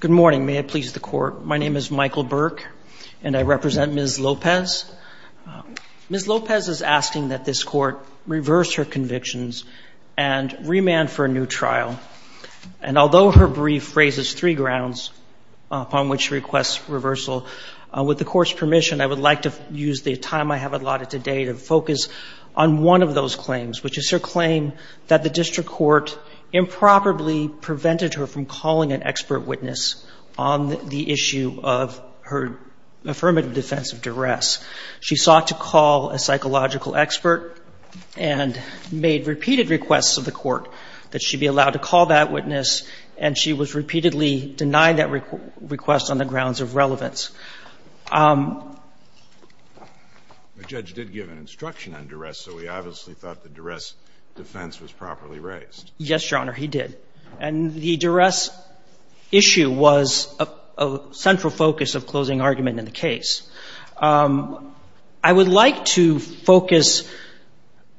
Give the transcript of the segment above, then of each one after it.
Good morning. May it please the Court. My name is Michael Burke, and I represent Ms. Lopez. Ms. Lopez is asking that this Court reverse her convictions and remand for a new trial. And although her brief raises three grounds upon which she requests reversal, with the Court's permission, I would like to use the time I have allotted today to focus on one of those claims, which is her claim that the district court improperly prevented her from calling an expert witness on the issue of her affirmative defense of duress. She sought to call a psychological expert and made repeated requests of the Court that she be allowed to call that witness, and she was repeatedly denied that request on the grounds of relevance. The judge did give an instruction on duress, so we obviously thought the duress defense was properly raised. Yes, Your Honor, he did. And the duress issue was a central focus of closing argument in the case. I would like to focus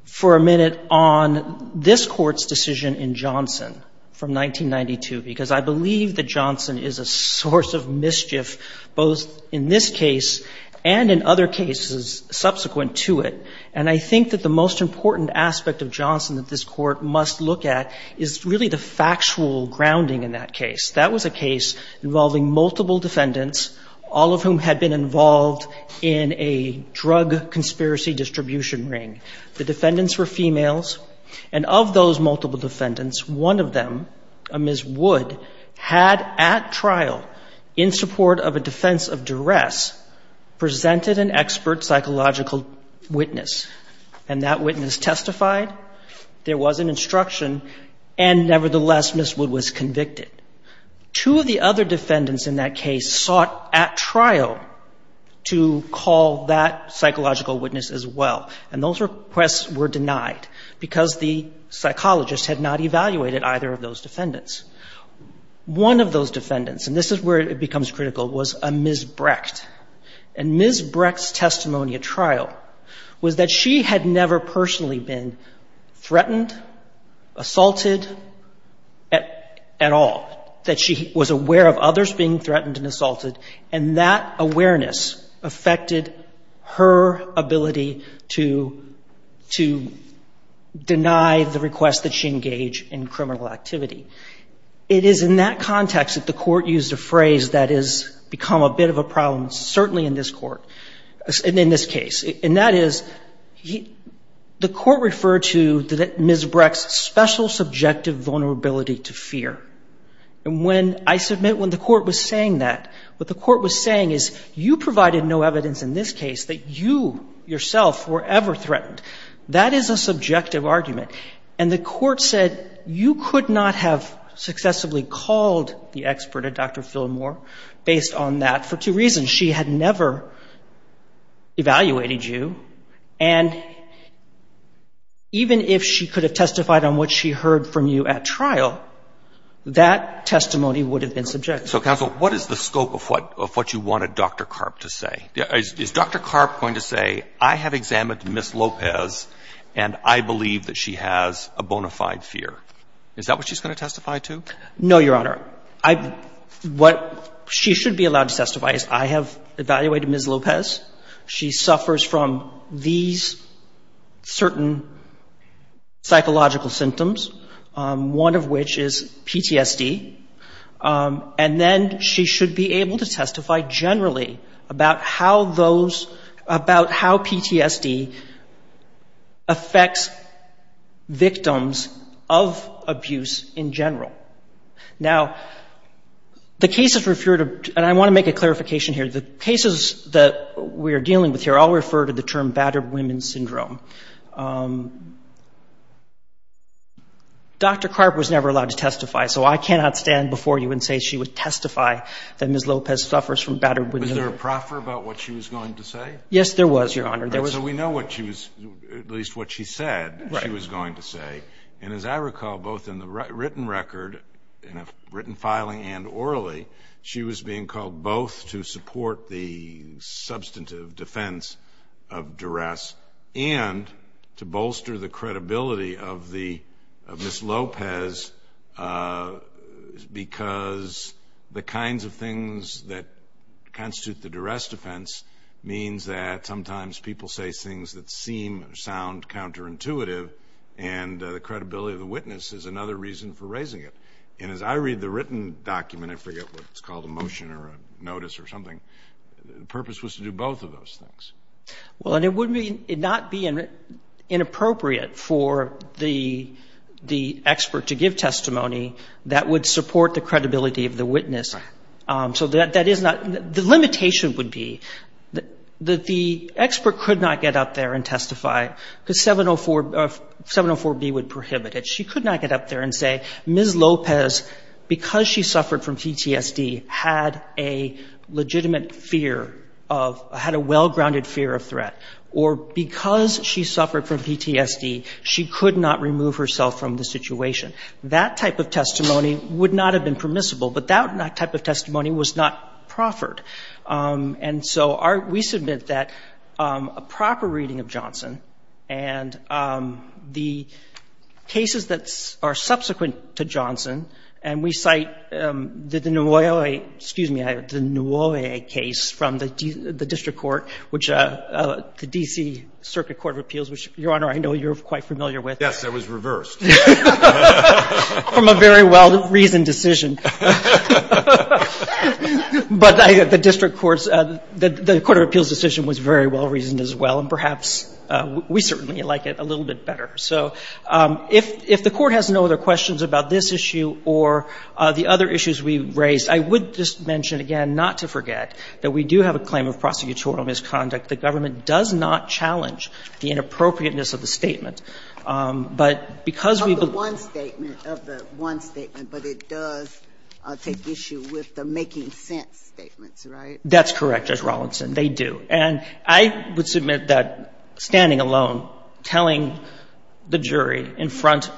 for a minute on this Court's decision in Johnson from 1992, because I believe that Johnson is a source of mischief both in this case and in other cases subsequent to it. And I think that the most important aspect of Johnson that this Court must look at is really the factual grounding in that case. That was a case involving multiple defendants, all of whom had been involved in a drug conspiracy distribution ring. The defendants were females. And of those multiple defendants, one of them, Ms. Wood, had at trial, in support of a defense of duress, presented an expert psychological witness. And that witness testified. There was an instruction. And nevertheless, Ms. Wood was convicted. Two of the other defendants in that case sought at trial to call that psychological witness as well. And those requests were denied because the psychologist had not evaluated either of those defendants. One of those defendants, and this is where it becomes critical, was a Ms. Brecht. And Ms. Brecht's testimony at trial was that she had never personally been threatened, assaulted at all, that she was aware of others being threatened and assaulted. And that awareness affected her ability to deny the request that she engaged in criminal activity. It is in that context that the Court used a phrase that has become a bit of a problem certainly in this Court, in this case. And that is, the Court referred to Ms. Brecht's special subjective vulnerability to fear. And when I submit, when the Court was saying that, what the Court was saying is, you provided no evidence in this case that you yourself were ever threatened. That is a subjective argument. And the Court said, you could not have successively called the expert, a Dr. Phil Moore, based on that for two reasons. She had never evaluated you. And even if she could have testified on what she heard from you at trial, that testimony would have been subjective. So, counsel, what is the scope of what you wanted Dr. Karp to say? Is Dr. Karp going to say, I have examined Ms. Lopez and I believe that she has a bona fide fear? Is that what she's going to testify to? No, Your Honor. What she should be allowed to testify is, I have evaluated Ms. Lopez. She suffers from these certain psychological symptoms, one of which is PTSD. And then she should be able to testify generally about how those, about how PTSD affects victims of abuse in general. Now, the cases referred to, and I want to make a clarification here, the cases that we are dealing with here all refer to the term battered women syndrome. Dr. Karp was never allowed to testify. So I cannot stand before you and say she would testify that Ms. Lopez suffers from battered women. Was there a proffer about what she was going to say? Yes, there was, Your Honor. So we know what she was, at least what she said, she was going to say. And as I recall, both in the written record, in a written filing and orally, she was being called both to support the substantive defense of duress and to bolster the credibility of Ms. Lopez because the kinds of things that constitute the duress defense means that sometimes people say things that seem or sound counterintuitive. And the credibility of the witness is another reason for raising it. And as I read the written document, I forget what it's called, a motion or a notice or something, the purpose was to do both of those things. Well, and it would not be inappropriate for the expert to give testimony that would support the credibility of the witness. So that is not the limitation would be that the expert could not get up there and testify because 704B would prohibit it. She could not get up there and say, Ms. Lopez, because she suffered from PTSD, had a legitimate fear of, had a well-grounded fear of threat, or because she suffered from PTSD, she could not remove herself from the situation. That type of testimony would not have been permissible, but that type of testimony was not proffered. And so we submit that a proper reading of Johnson and the cases that are subsequent to Johnson, and we cite the Nuoye, excuse me, the Nuoye case from the district court, which the D.C. Circuit Court of Appeals, which, Your Honor, I know you're quite familiar with. Yes, it was reversed. From a very well-reasoned decision. But the district court's, the Court of Appeals' decision was very well-reasoned as well, and perhaps we certainly like it a little bit better. So if the Court has no other questions about this issue or the other issues we raised, I would just mention again, not to forget, that we do have a claim of prosecutorial misconduct. The government does not challenge the inappropriateness of the statement. But because we've been one statement of the one statement, but it does take issue with the making sense statements, right? That's correct, Judge Rawlinson. They do. And I would submit that standing alone, telling the jury in front,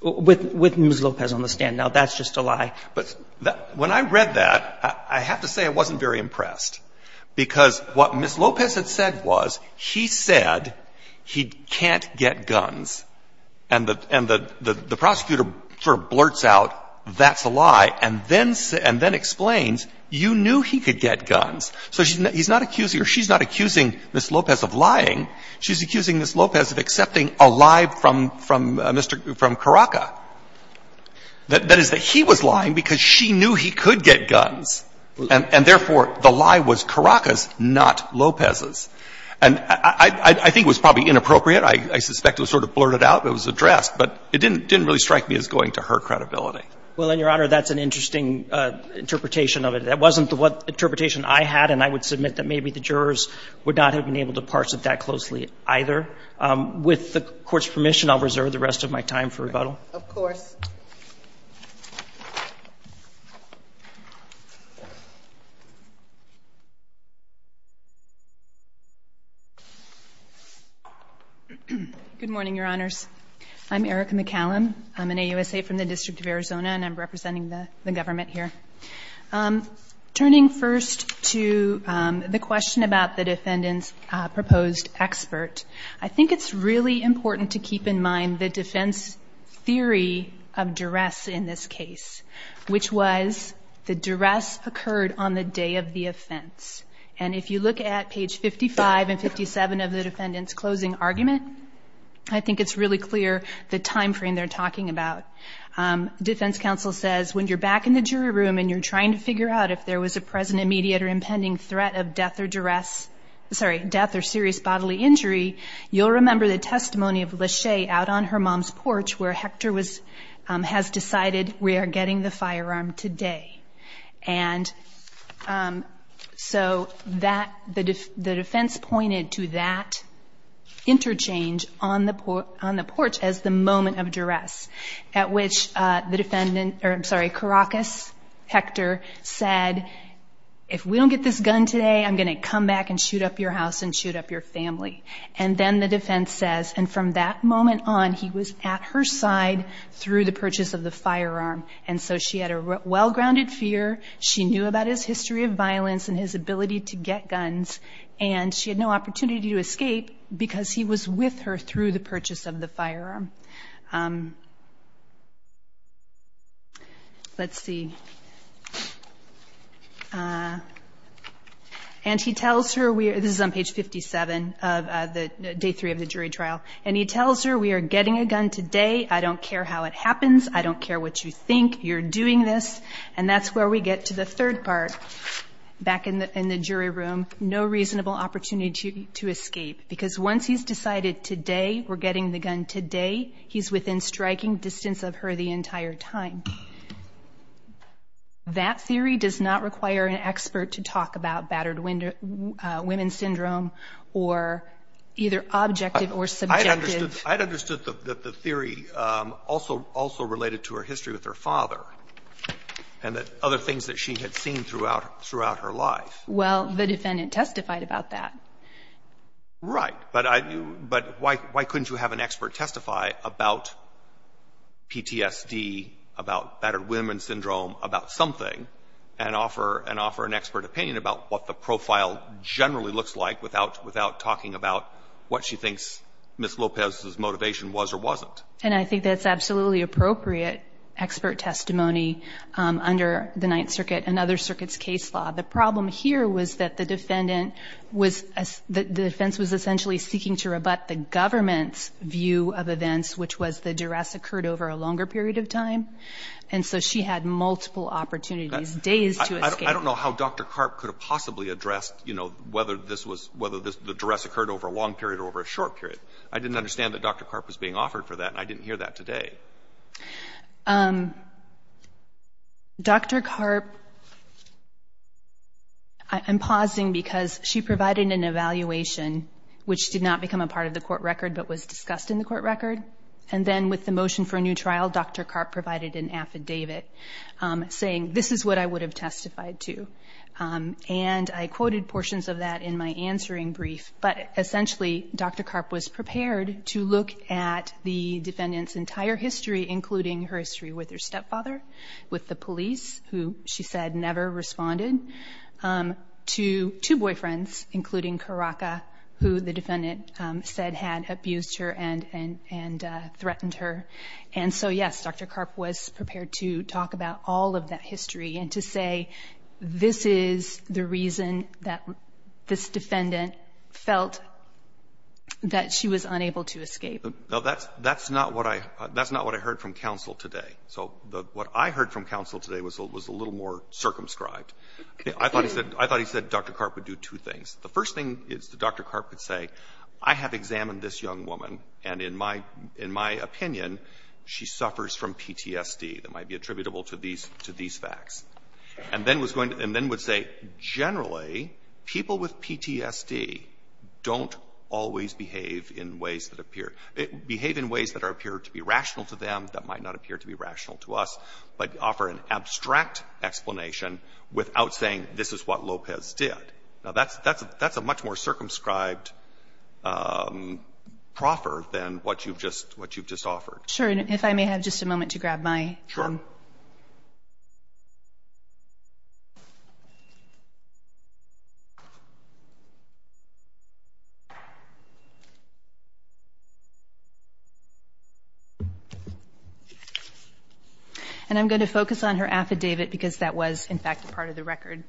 with Ms. Lopez on the stand, now, that's just a lie. But when I read that, I have to say I wasn't very impressed, because what Ms. Lopez had said was, he said he can't get guns, and the prosecutor sort of blurts out, that's a lie, and then explains, you knew he could get guns. So he's not accusing, or she's not accusing Ms. Lopez of lying. She's accusing Ms. Lopez of accepting a lie from Mr. Karaca. That is, that he was lying because she knew he could get guns. And therefore, the lie was Karaca's, not Lopez's. And I think it was probably inappropriate. I suspect it was sort of blurted out, but it was addressed. But it didn't really strike me as going to her credibility. Well, and, Your Honor, that's an interesting interpretation of it. That wasn't the interpretation I had, and I would submit that maybe the jurors would not have been able to parse it that closely either. With the Court's permission, I'll reserve the rest of my time for rebuttal. Of course. Good morning, Your Honors. I'm Erica McCallum. I'm an AUSA from the District of Arizona, and I'm representing the government here. Turning first to the question about the defendant's proposed expert, I think it's really important to keep in mind the defense theory of duress in this case, which was the duress occurred on the day of the offense. And if you look at page 55 and 57 of the defendant's closing argument, I think it's really clear the time frame they're talking about. Defense counsel says, when you're back in the jury room and you're trying to figure out if there was a present, immediate, or impending threat of death or duress, sorry, death or serious bodily injury, you'll remember the testimony of Lachey out on her mom's porch where Hector has decided we are getting the firearm today. And so the defense pointed to that interchange on the porch as the moment of which the defendant, or I'm sorry, Caracas Hector said, if we don't get this gun today, I'm going to come back and shoot up your house and shoot up your family. And then the defense says, and from that moment on, he was at her side through the purchase of the firearm. And so she had a well-grounded fear. She knew about his history of violence and his ability to get guns, and she had no opportunity to escape because he was with her through the purchase of the firearm. Let's see. And he tells her, this is on page 57 of the day three of the jury trial, and he tells her, we are getting a gun today. I don't care how it happens. I don't care what you think. You're doing this. And that's where we get to the third part, back in the jury room, no reasonable opportunity to escape because once he's decided today, we're getting the gun today, he's within striking distance of her the entire time. That theory does not require an expert to talk about battered women syndrome or either objective or subjective. I'd understood that the theory also related to her history with her father and that other things that she had seen throughout her life. Well, the defendant testified about that. Right. But why couldn't you have an expert testify about PTSD, about battered women syndrome, about something, and offer an expert opinion about what the profile generally looks like without talking about what she thinks Ms. Lopez's motivation was or wasn't? And I think that's absolutely appropriate expert testimony under the Ninth Circuit and other circuits' case law. The problem here was that the defendant was – the defense was essentially seeking to rebut the government's view of events, which was the duress occurred over a longer period of time. And so she had multiple opportunities, days to escape. I don't know how Dr. Karp could have possibly addressed, you know, whether this was – whether the duress occurred over a long period or over a short period. I didn't understand that Dr. Karp was being offered for that, and I didn't hear that today. Dr. Karp – I'm pausing because she provided an evaluation, which did not become a part of the court record but was discussed in the court record. And then with the motion for a new trial, Dr. Karp provided an affidavit saying, this is what I would have testified to. And I quoted portions of that in my answering brief. But essentially, Dr. Karp was prepared to look at the defendant's entire history, including her history with her stepfather, with the police, who she said never responded, to two boyfriends, including Karaka, who the defendant said had abused her and threatened her. And so, yes, Dr. Karp was prepared to talk about all of that history and to say, this is the reason that this defendant felt that she was unable to escape. Now, that's not what I heard from counsel today. So what I heard from counsel today was a little more circumscribed. I thought he said Dr. Karp would do two things. The first thing is that Dr. Karp would say, I have examined this young woman, and in my opinion, she suffers from PTSD. That might be attributable to these facts. And then was going to – and then would say, generally, people with PTSD don't always behave in ways that appear – behave in ways that appear to be rational to them, that might not appear to be rational to us, but offer an abstract explanation without saying this is what Lopez did. Now, that's a much more circumscribed proffer than what you've just – what you've just offered. Sure. And if I may have just a moment to grab my – Sure. And I'm going to focus on her affidavit because that was, in fact, part of the record.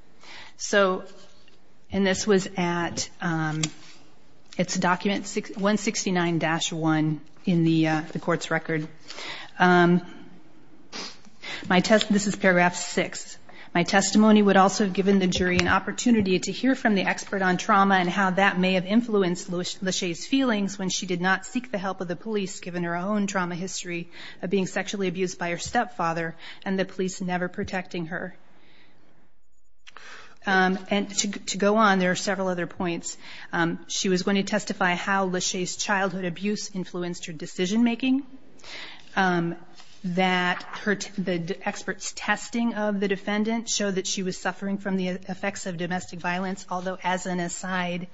So – and this was at – it's document 169-1 in the court's record. My – this is paragraph 6. My testimony would also have given the jury an opportunity to hear from the expert on trauma and how that may have influenced Lachey's feelings when she did not seek the help of the police, given her own trauma history of being sexually abused by her stepfather and the police never protecting her. And to go on, there are several other points. She was going to testify how Lachey's childhood abuse influenced her decision making, that the expert's testing of the defendant showed that she was suffering from the effects of domestic violence, although as an aside,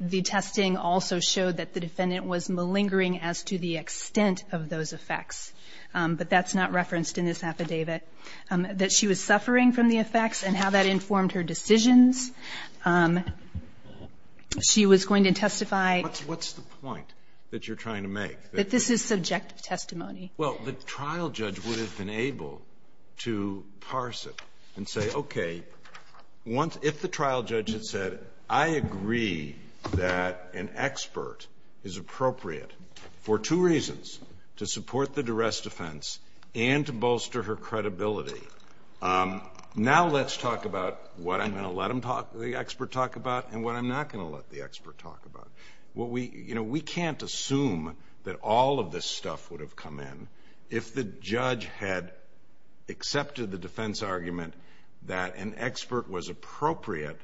the testing also showed that the defendant was malingering as to the extent of those effects. But that's not referenced in this affidavit. That she was suffering from the effects and how that informed her decisions. She was going to testify – What's the point that you're trying to make? That this is subjective testimony. Well, the trial judge would have been able to parse it and say, okay, if the trial judge had said, I agree that an expert is appropriate for two reasons, to support the duress defense and to bolster her credibility, now let's talk about what I'm going to let the expert talk about and what I'm not going to let the expert talk about. We can't assume that all of this stuff would have come in if the judge had accepted the defense argument that an expert was appropriate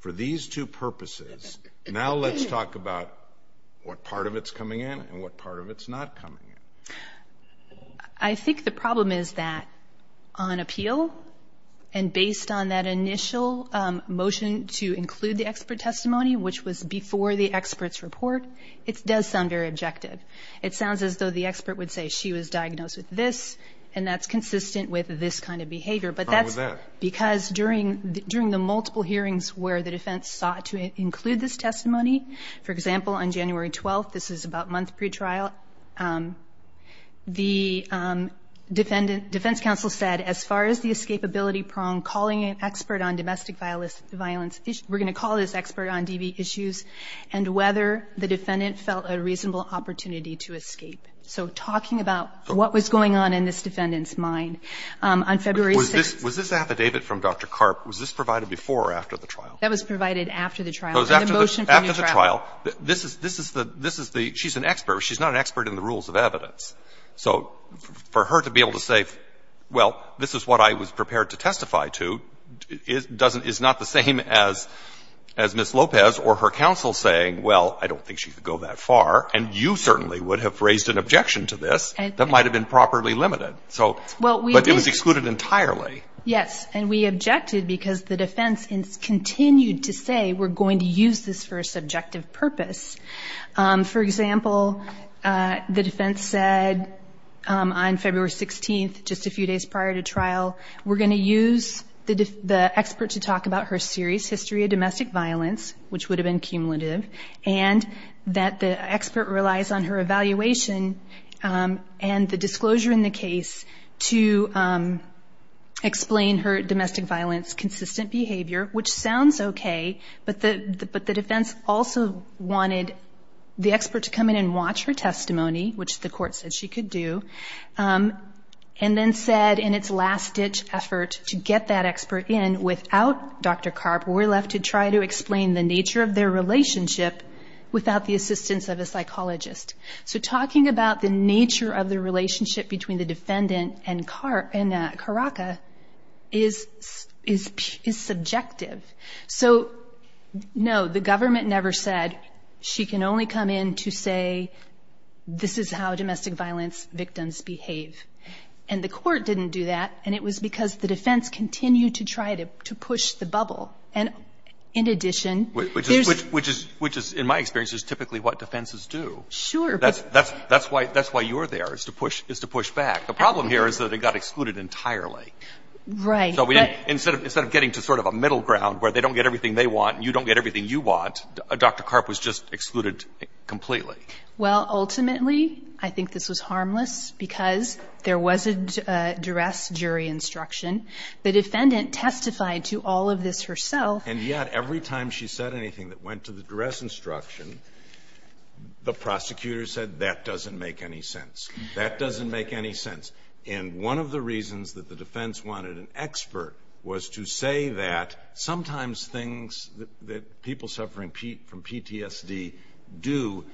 for these two purposes. Now let's talk about what part of it's coming in and what part of it's not coming in. I think the problem is that on appeal and based on that initial motion to include the expert testimony, which was before the expert's report, it does sound very objective. It sounds as though the expert would say she was diagnosed with this and that's consistent with this kind of behavior. Why was that? Because during the multiple hearings where the defense sought to include this testimony, for example, on January 12th – this is about a month pre-trial – the defense counsel said, as far as the escapability prong, calling an expert on domestic violence, we're going to call this expert on DV issues, and whether the defendant felt a reasonable opportunity to escape. So talking about what was going on in this defendant's mind. On February 6th – Was this affidavit from Dr. Karp, was this provided before or after the trial? That was provided after the trial. After the trial, this is the – she's an expert. She's not an expert in the rules of evidence. So for her to be able to say, well, this is what I was prepared to testify to, is not the same as Ms. Lopez or her counsel saying, well, I don't think she could go that far. And you certainly would have raised an objection to this that might have been properly limited. But it was excluded entirely. Yes. And we objected because the defense continued to say we're going to use this for a subjective purpose. For example, the defense said on February 16th, just a few days prior to trial, we're going to use the expert to talk about her serious history of domestic violence, which would have been cumulative, and that the expert relies on her evaluation and the disclosure in the case to explain her domestic violence consistent behavior, which sounds okay. But the defense also wanted the expert to come in and watch her testimony, which the court said she could do. And then said in its last-ditch effort to get that expert in without Dr. Karp, we're left to try to explain the nature of their relationship without the assistance of a psychologist. So talking about the nature of the relationship between the defendant and Karaka is subjective. So, no, the government never said she can only come in to say this is how domestic violence victims behave. And the court didn't do that, and it was because the defense continued to try to push the bubble. And, in addition, there's – Which is, in my experience, is typically what defenses do. Sure. That's why you're there, is to push back. The problem here is that it got excluded entirely. Right. So instead of getting to sort of a middle ground where they don't get everything they want and you don't get everything you want, Dr. Karp was just excluded completely. Well, ultimately, I think this was harmless because there was a duress jury instruction. The defendant testified to all of this herself. And yet every time she said anything that went to the duress instruction, the prosecutor said, that doesn't make any sense. That doesn't make any sense. And one of the reasons that the defense wanted an expert was to say that sometimes things that people suffering from PTSD do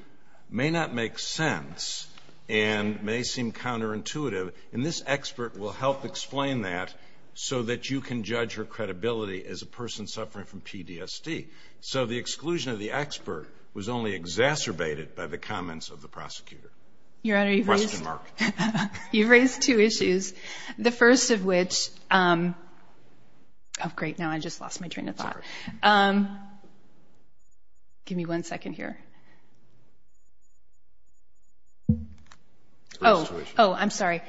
may not make sense and may seem counterintuitive. And this expert will help explain that so that you can judge her credibility as a person suffering from PTSD. So the exclusion of the expert was only exacerbated by the comments of the prosecutor. Your Honor, you've raised two issues, the first of which – oh, great, now I just lost my train of thought. Give me one second here. Oh, I'm sorry.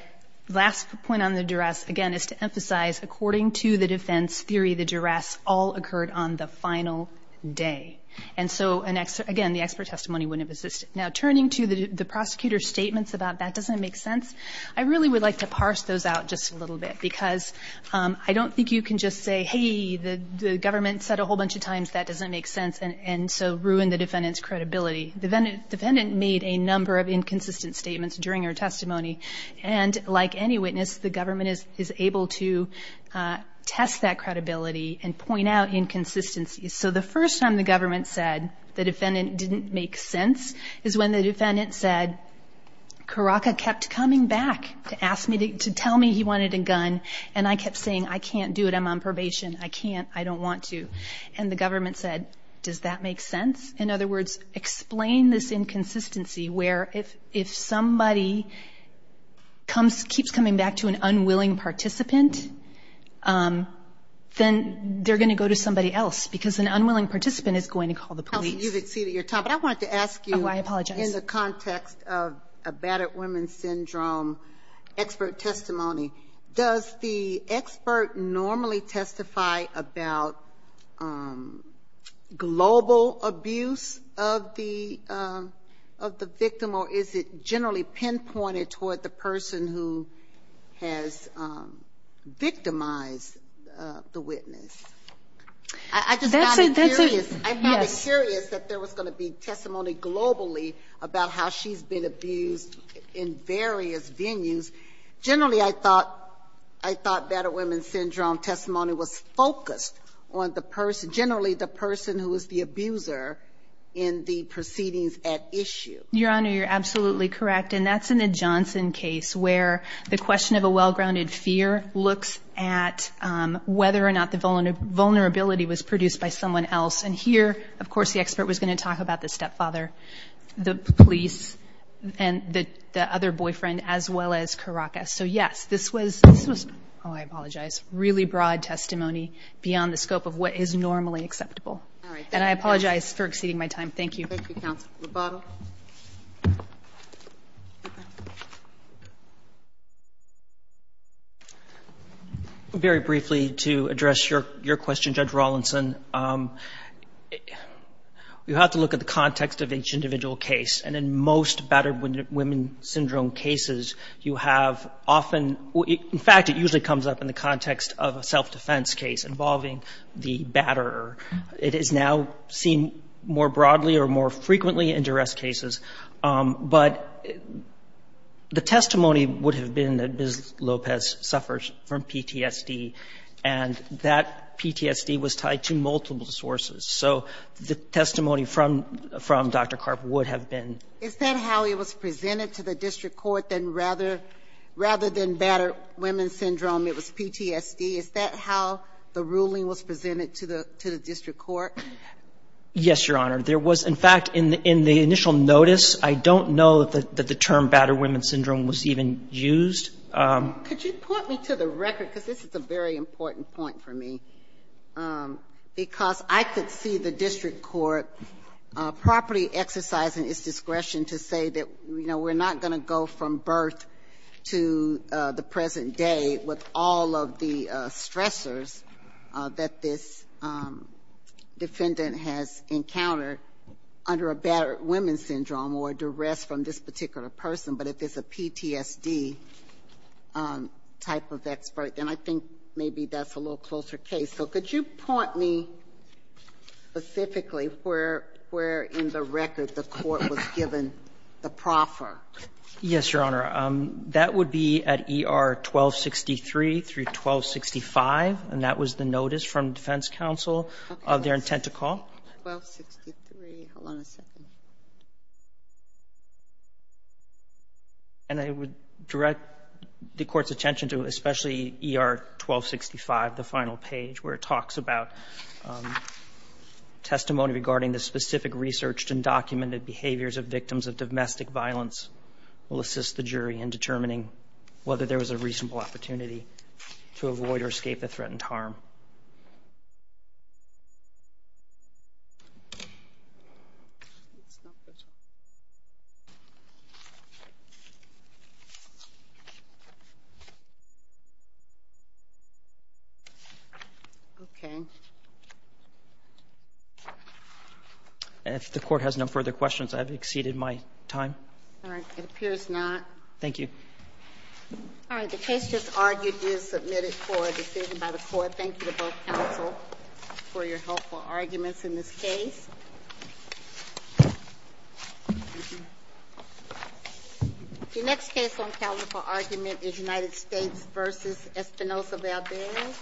Last point on the duress, again, is to emphasize according to the defense theory, the duress all occurred on the final day. And so, again, the expert testimony wouldn't have existed. Now, turning to the prosecutor's statements about that doesn't make sense, I really would like to parse those out just a little bit because I don't think you can just say, hey, the government said a whole bunch of times that doesn't make sense and so ruin the defendant's credibility. The defendant made a number of inconsistent statements during her testimony. And like any witness, the government is able to test that credibility and point out inconsistencies. So the first time the government said the defendant didn't make sense is when the defendant said, Caraca kept coming back to tell me he wanted a gun and I kept saying, I can't do it, I'm on probation, I can't, I don't want to. And the government said, does that make sense? In other words, explain this inconsistency where if somebody keeps coming back to an unwilling participant, then they're going to go to somebody else because an unwilling participant is going to call the police. But I wanted to ask you in the context of a battered woman syndrome expert testimony, does the expert normally testify about global abuse of the victim or is it generally pinpointed toward the person who has victimized the witness? I just found it curious that there was going to be testimony globally about how she's been abused in various venues. Generally, I thought battered woman syndrome testimony was focused on the person, generally the person who was the abuser in the proceedings at issue. Your Honor, you're absolutely correct. And that's in the Johnson case where the question of a well-grounded fear looks at whether or not the vulnerability was produced by someone else. And here, of course, the expert was going to talk about the stepfather, the police, and the other boyfriend as well as Caracas. So, yes, this was, oh, I apologize, really broad testimony beyond the scope of what is normally acceptable. And I apologize for exceeding my time. Thank you. Thank you, Counsel Roboto. Very briefly, to address your question, Judge Rawlinson, you have to look at the context of each individual case. And in most battered women syndrome cases, you have often, in fact, it usually comes up in the context of a self-defense case involving the batterer. It is now seen more broadly or more frequently in duress cases. But the testimony would have been that Ms. Lopez suffers from PTSD, and that PTSD was tied to multiple sources. So the testimony from Dr. Carp would have been. Is that how it was presented to the district court, that rather than battered women syndrome, it was PTSD? Is that how the ruling was presented to the district court? Yes, Your Honor. There was, in fact, in the initial notice, I don't know that the term battered women syndrome was even used. Could you point me to the record? Because this is a very important point for me. Because I could see the district court properly exercising its discretion to say that, you know, we're not going to go from birth to the present day with all of the stressors that this defendant has encountered under a battered women syndrome or duress from this particular person. But if it's a PTSD type of expert, then I think maybe that's a little closer case. So could you point me specifically where in the record the court was given the proffer? Yes, Your Honor. That would be at ER 1263 through 1265, and that was the notice from defense counsel of their intent to call. 1263. Hold on a second. And I would direct the court's attention to especially ER 1265, the final page where it talks about testimony regarding the specific research and documented behaviors of victims of domestic violence will assist the jury in determining whether there was a reasonable opportunity to avoid or escape the threatened harm. If the court has no further questions, I've exceeded my time. All right. It appears not. Thank you. All right. The case just argued is submitted for a decision by the court. Thank you to both counsel for your helpful arguments in this case. Your next case on calendar for argument is United States v. Espinosa-Valdez.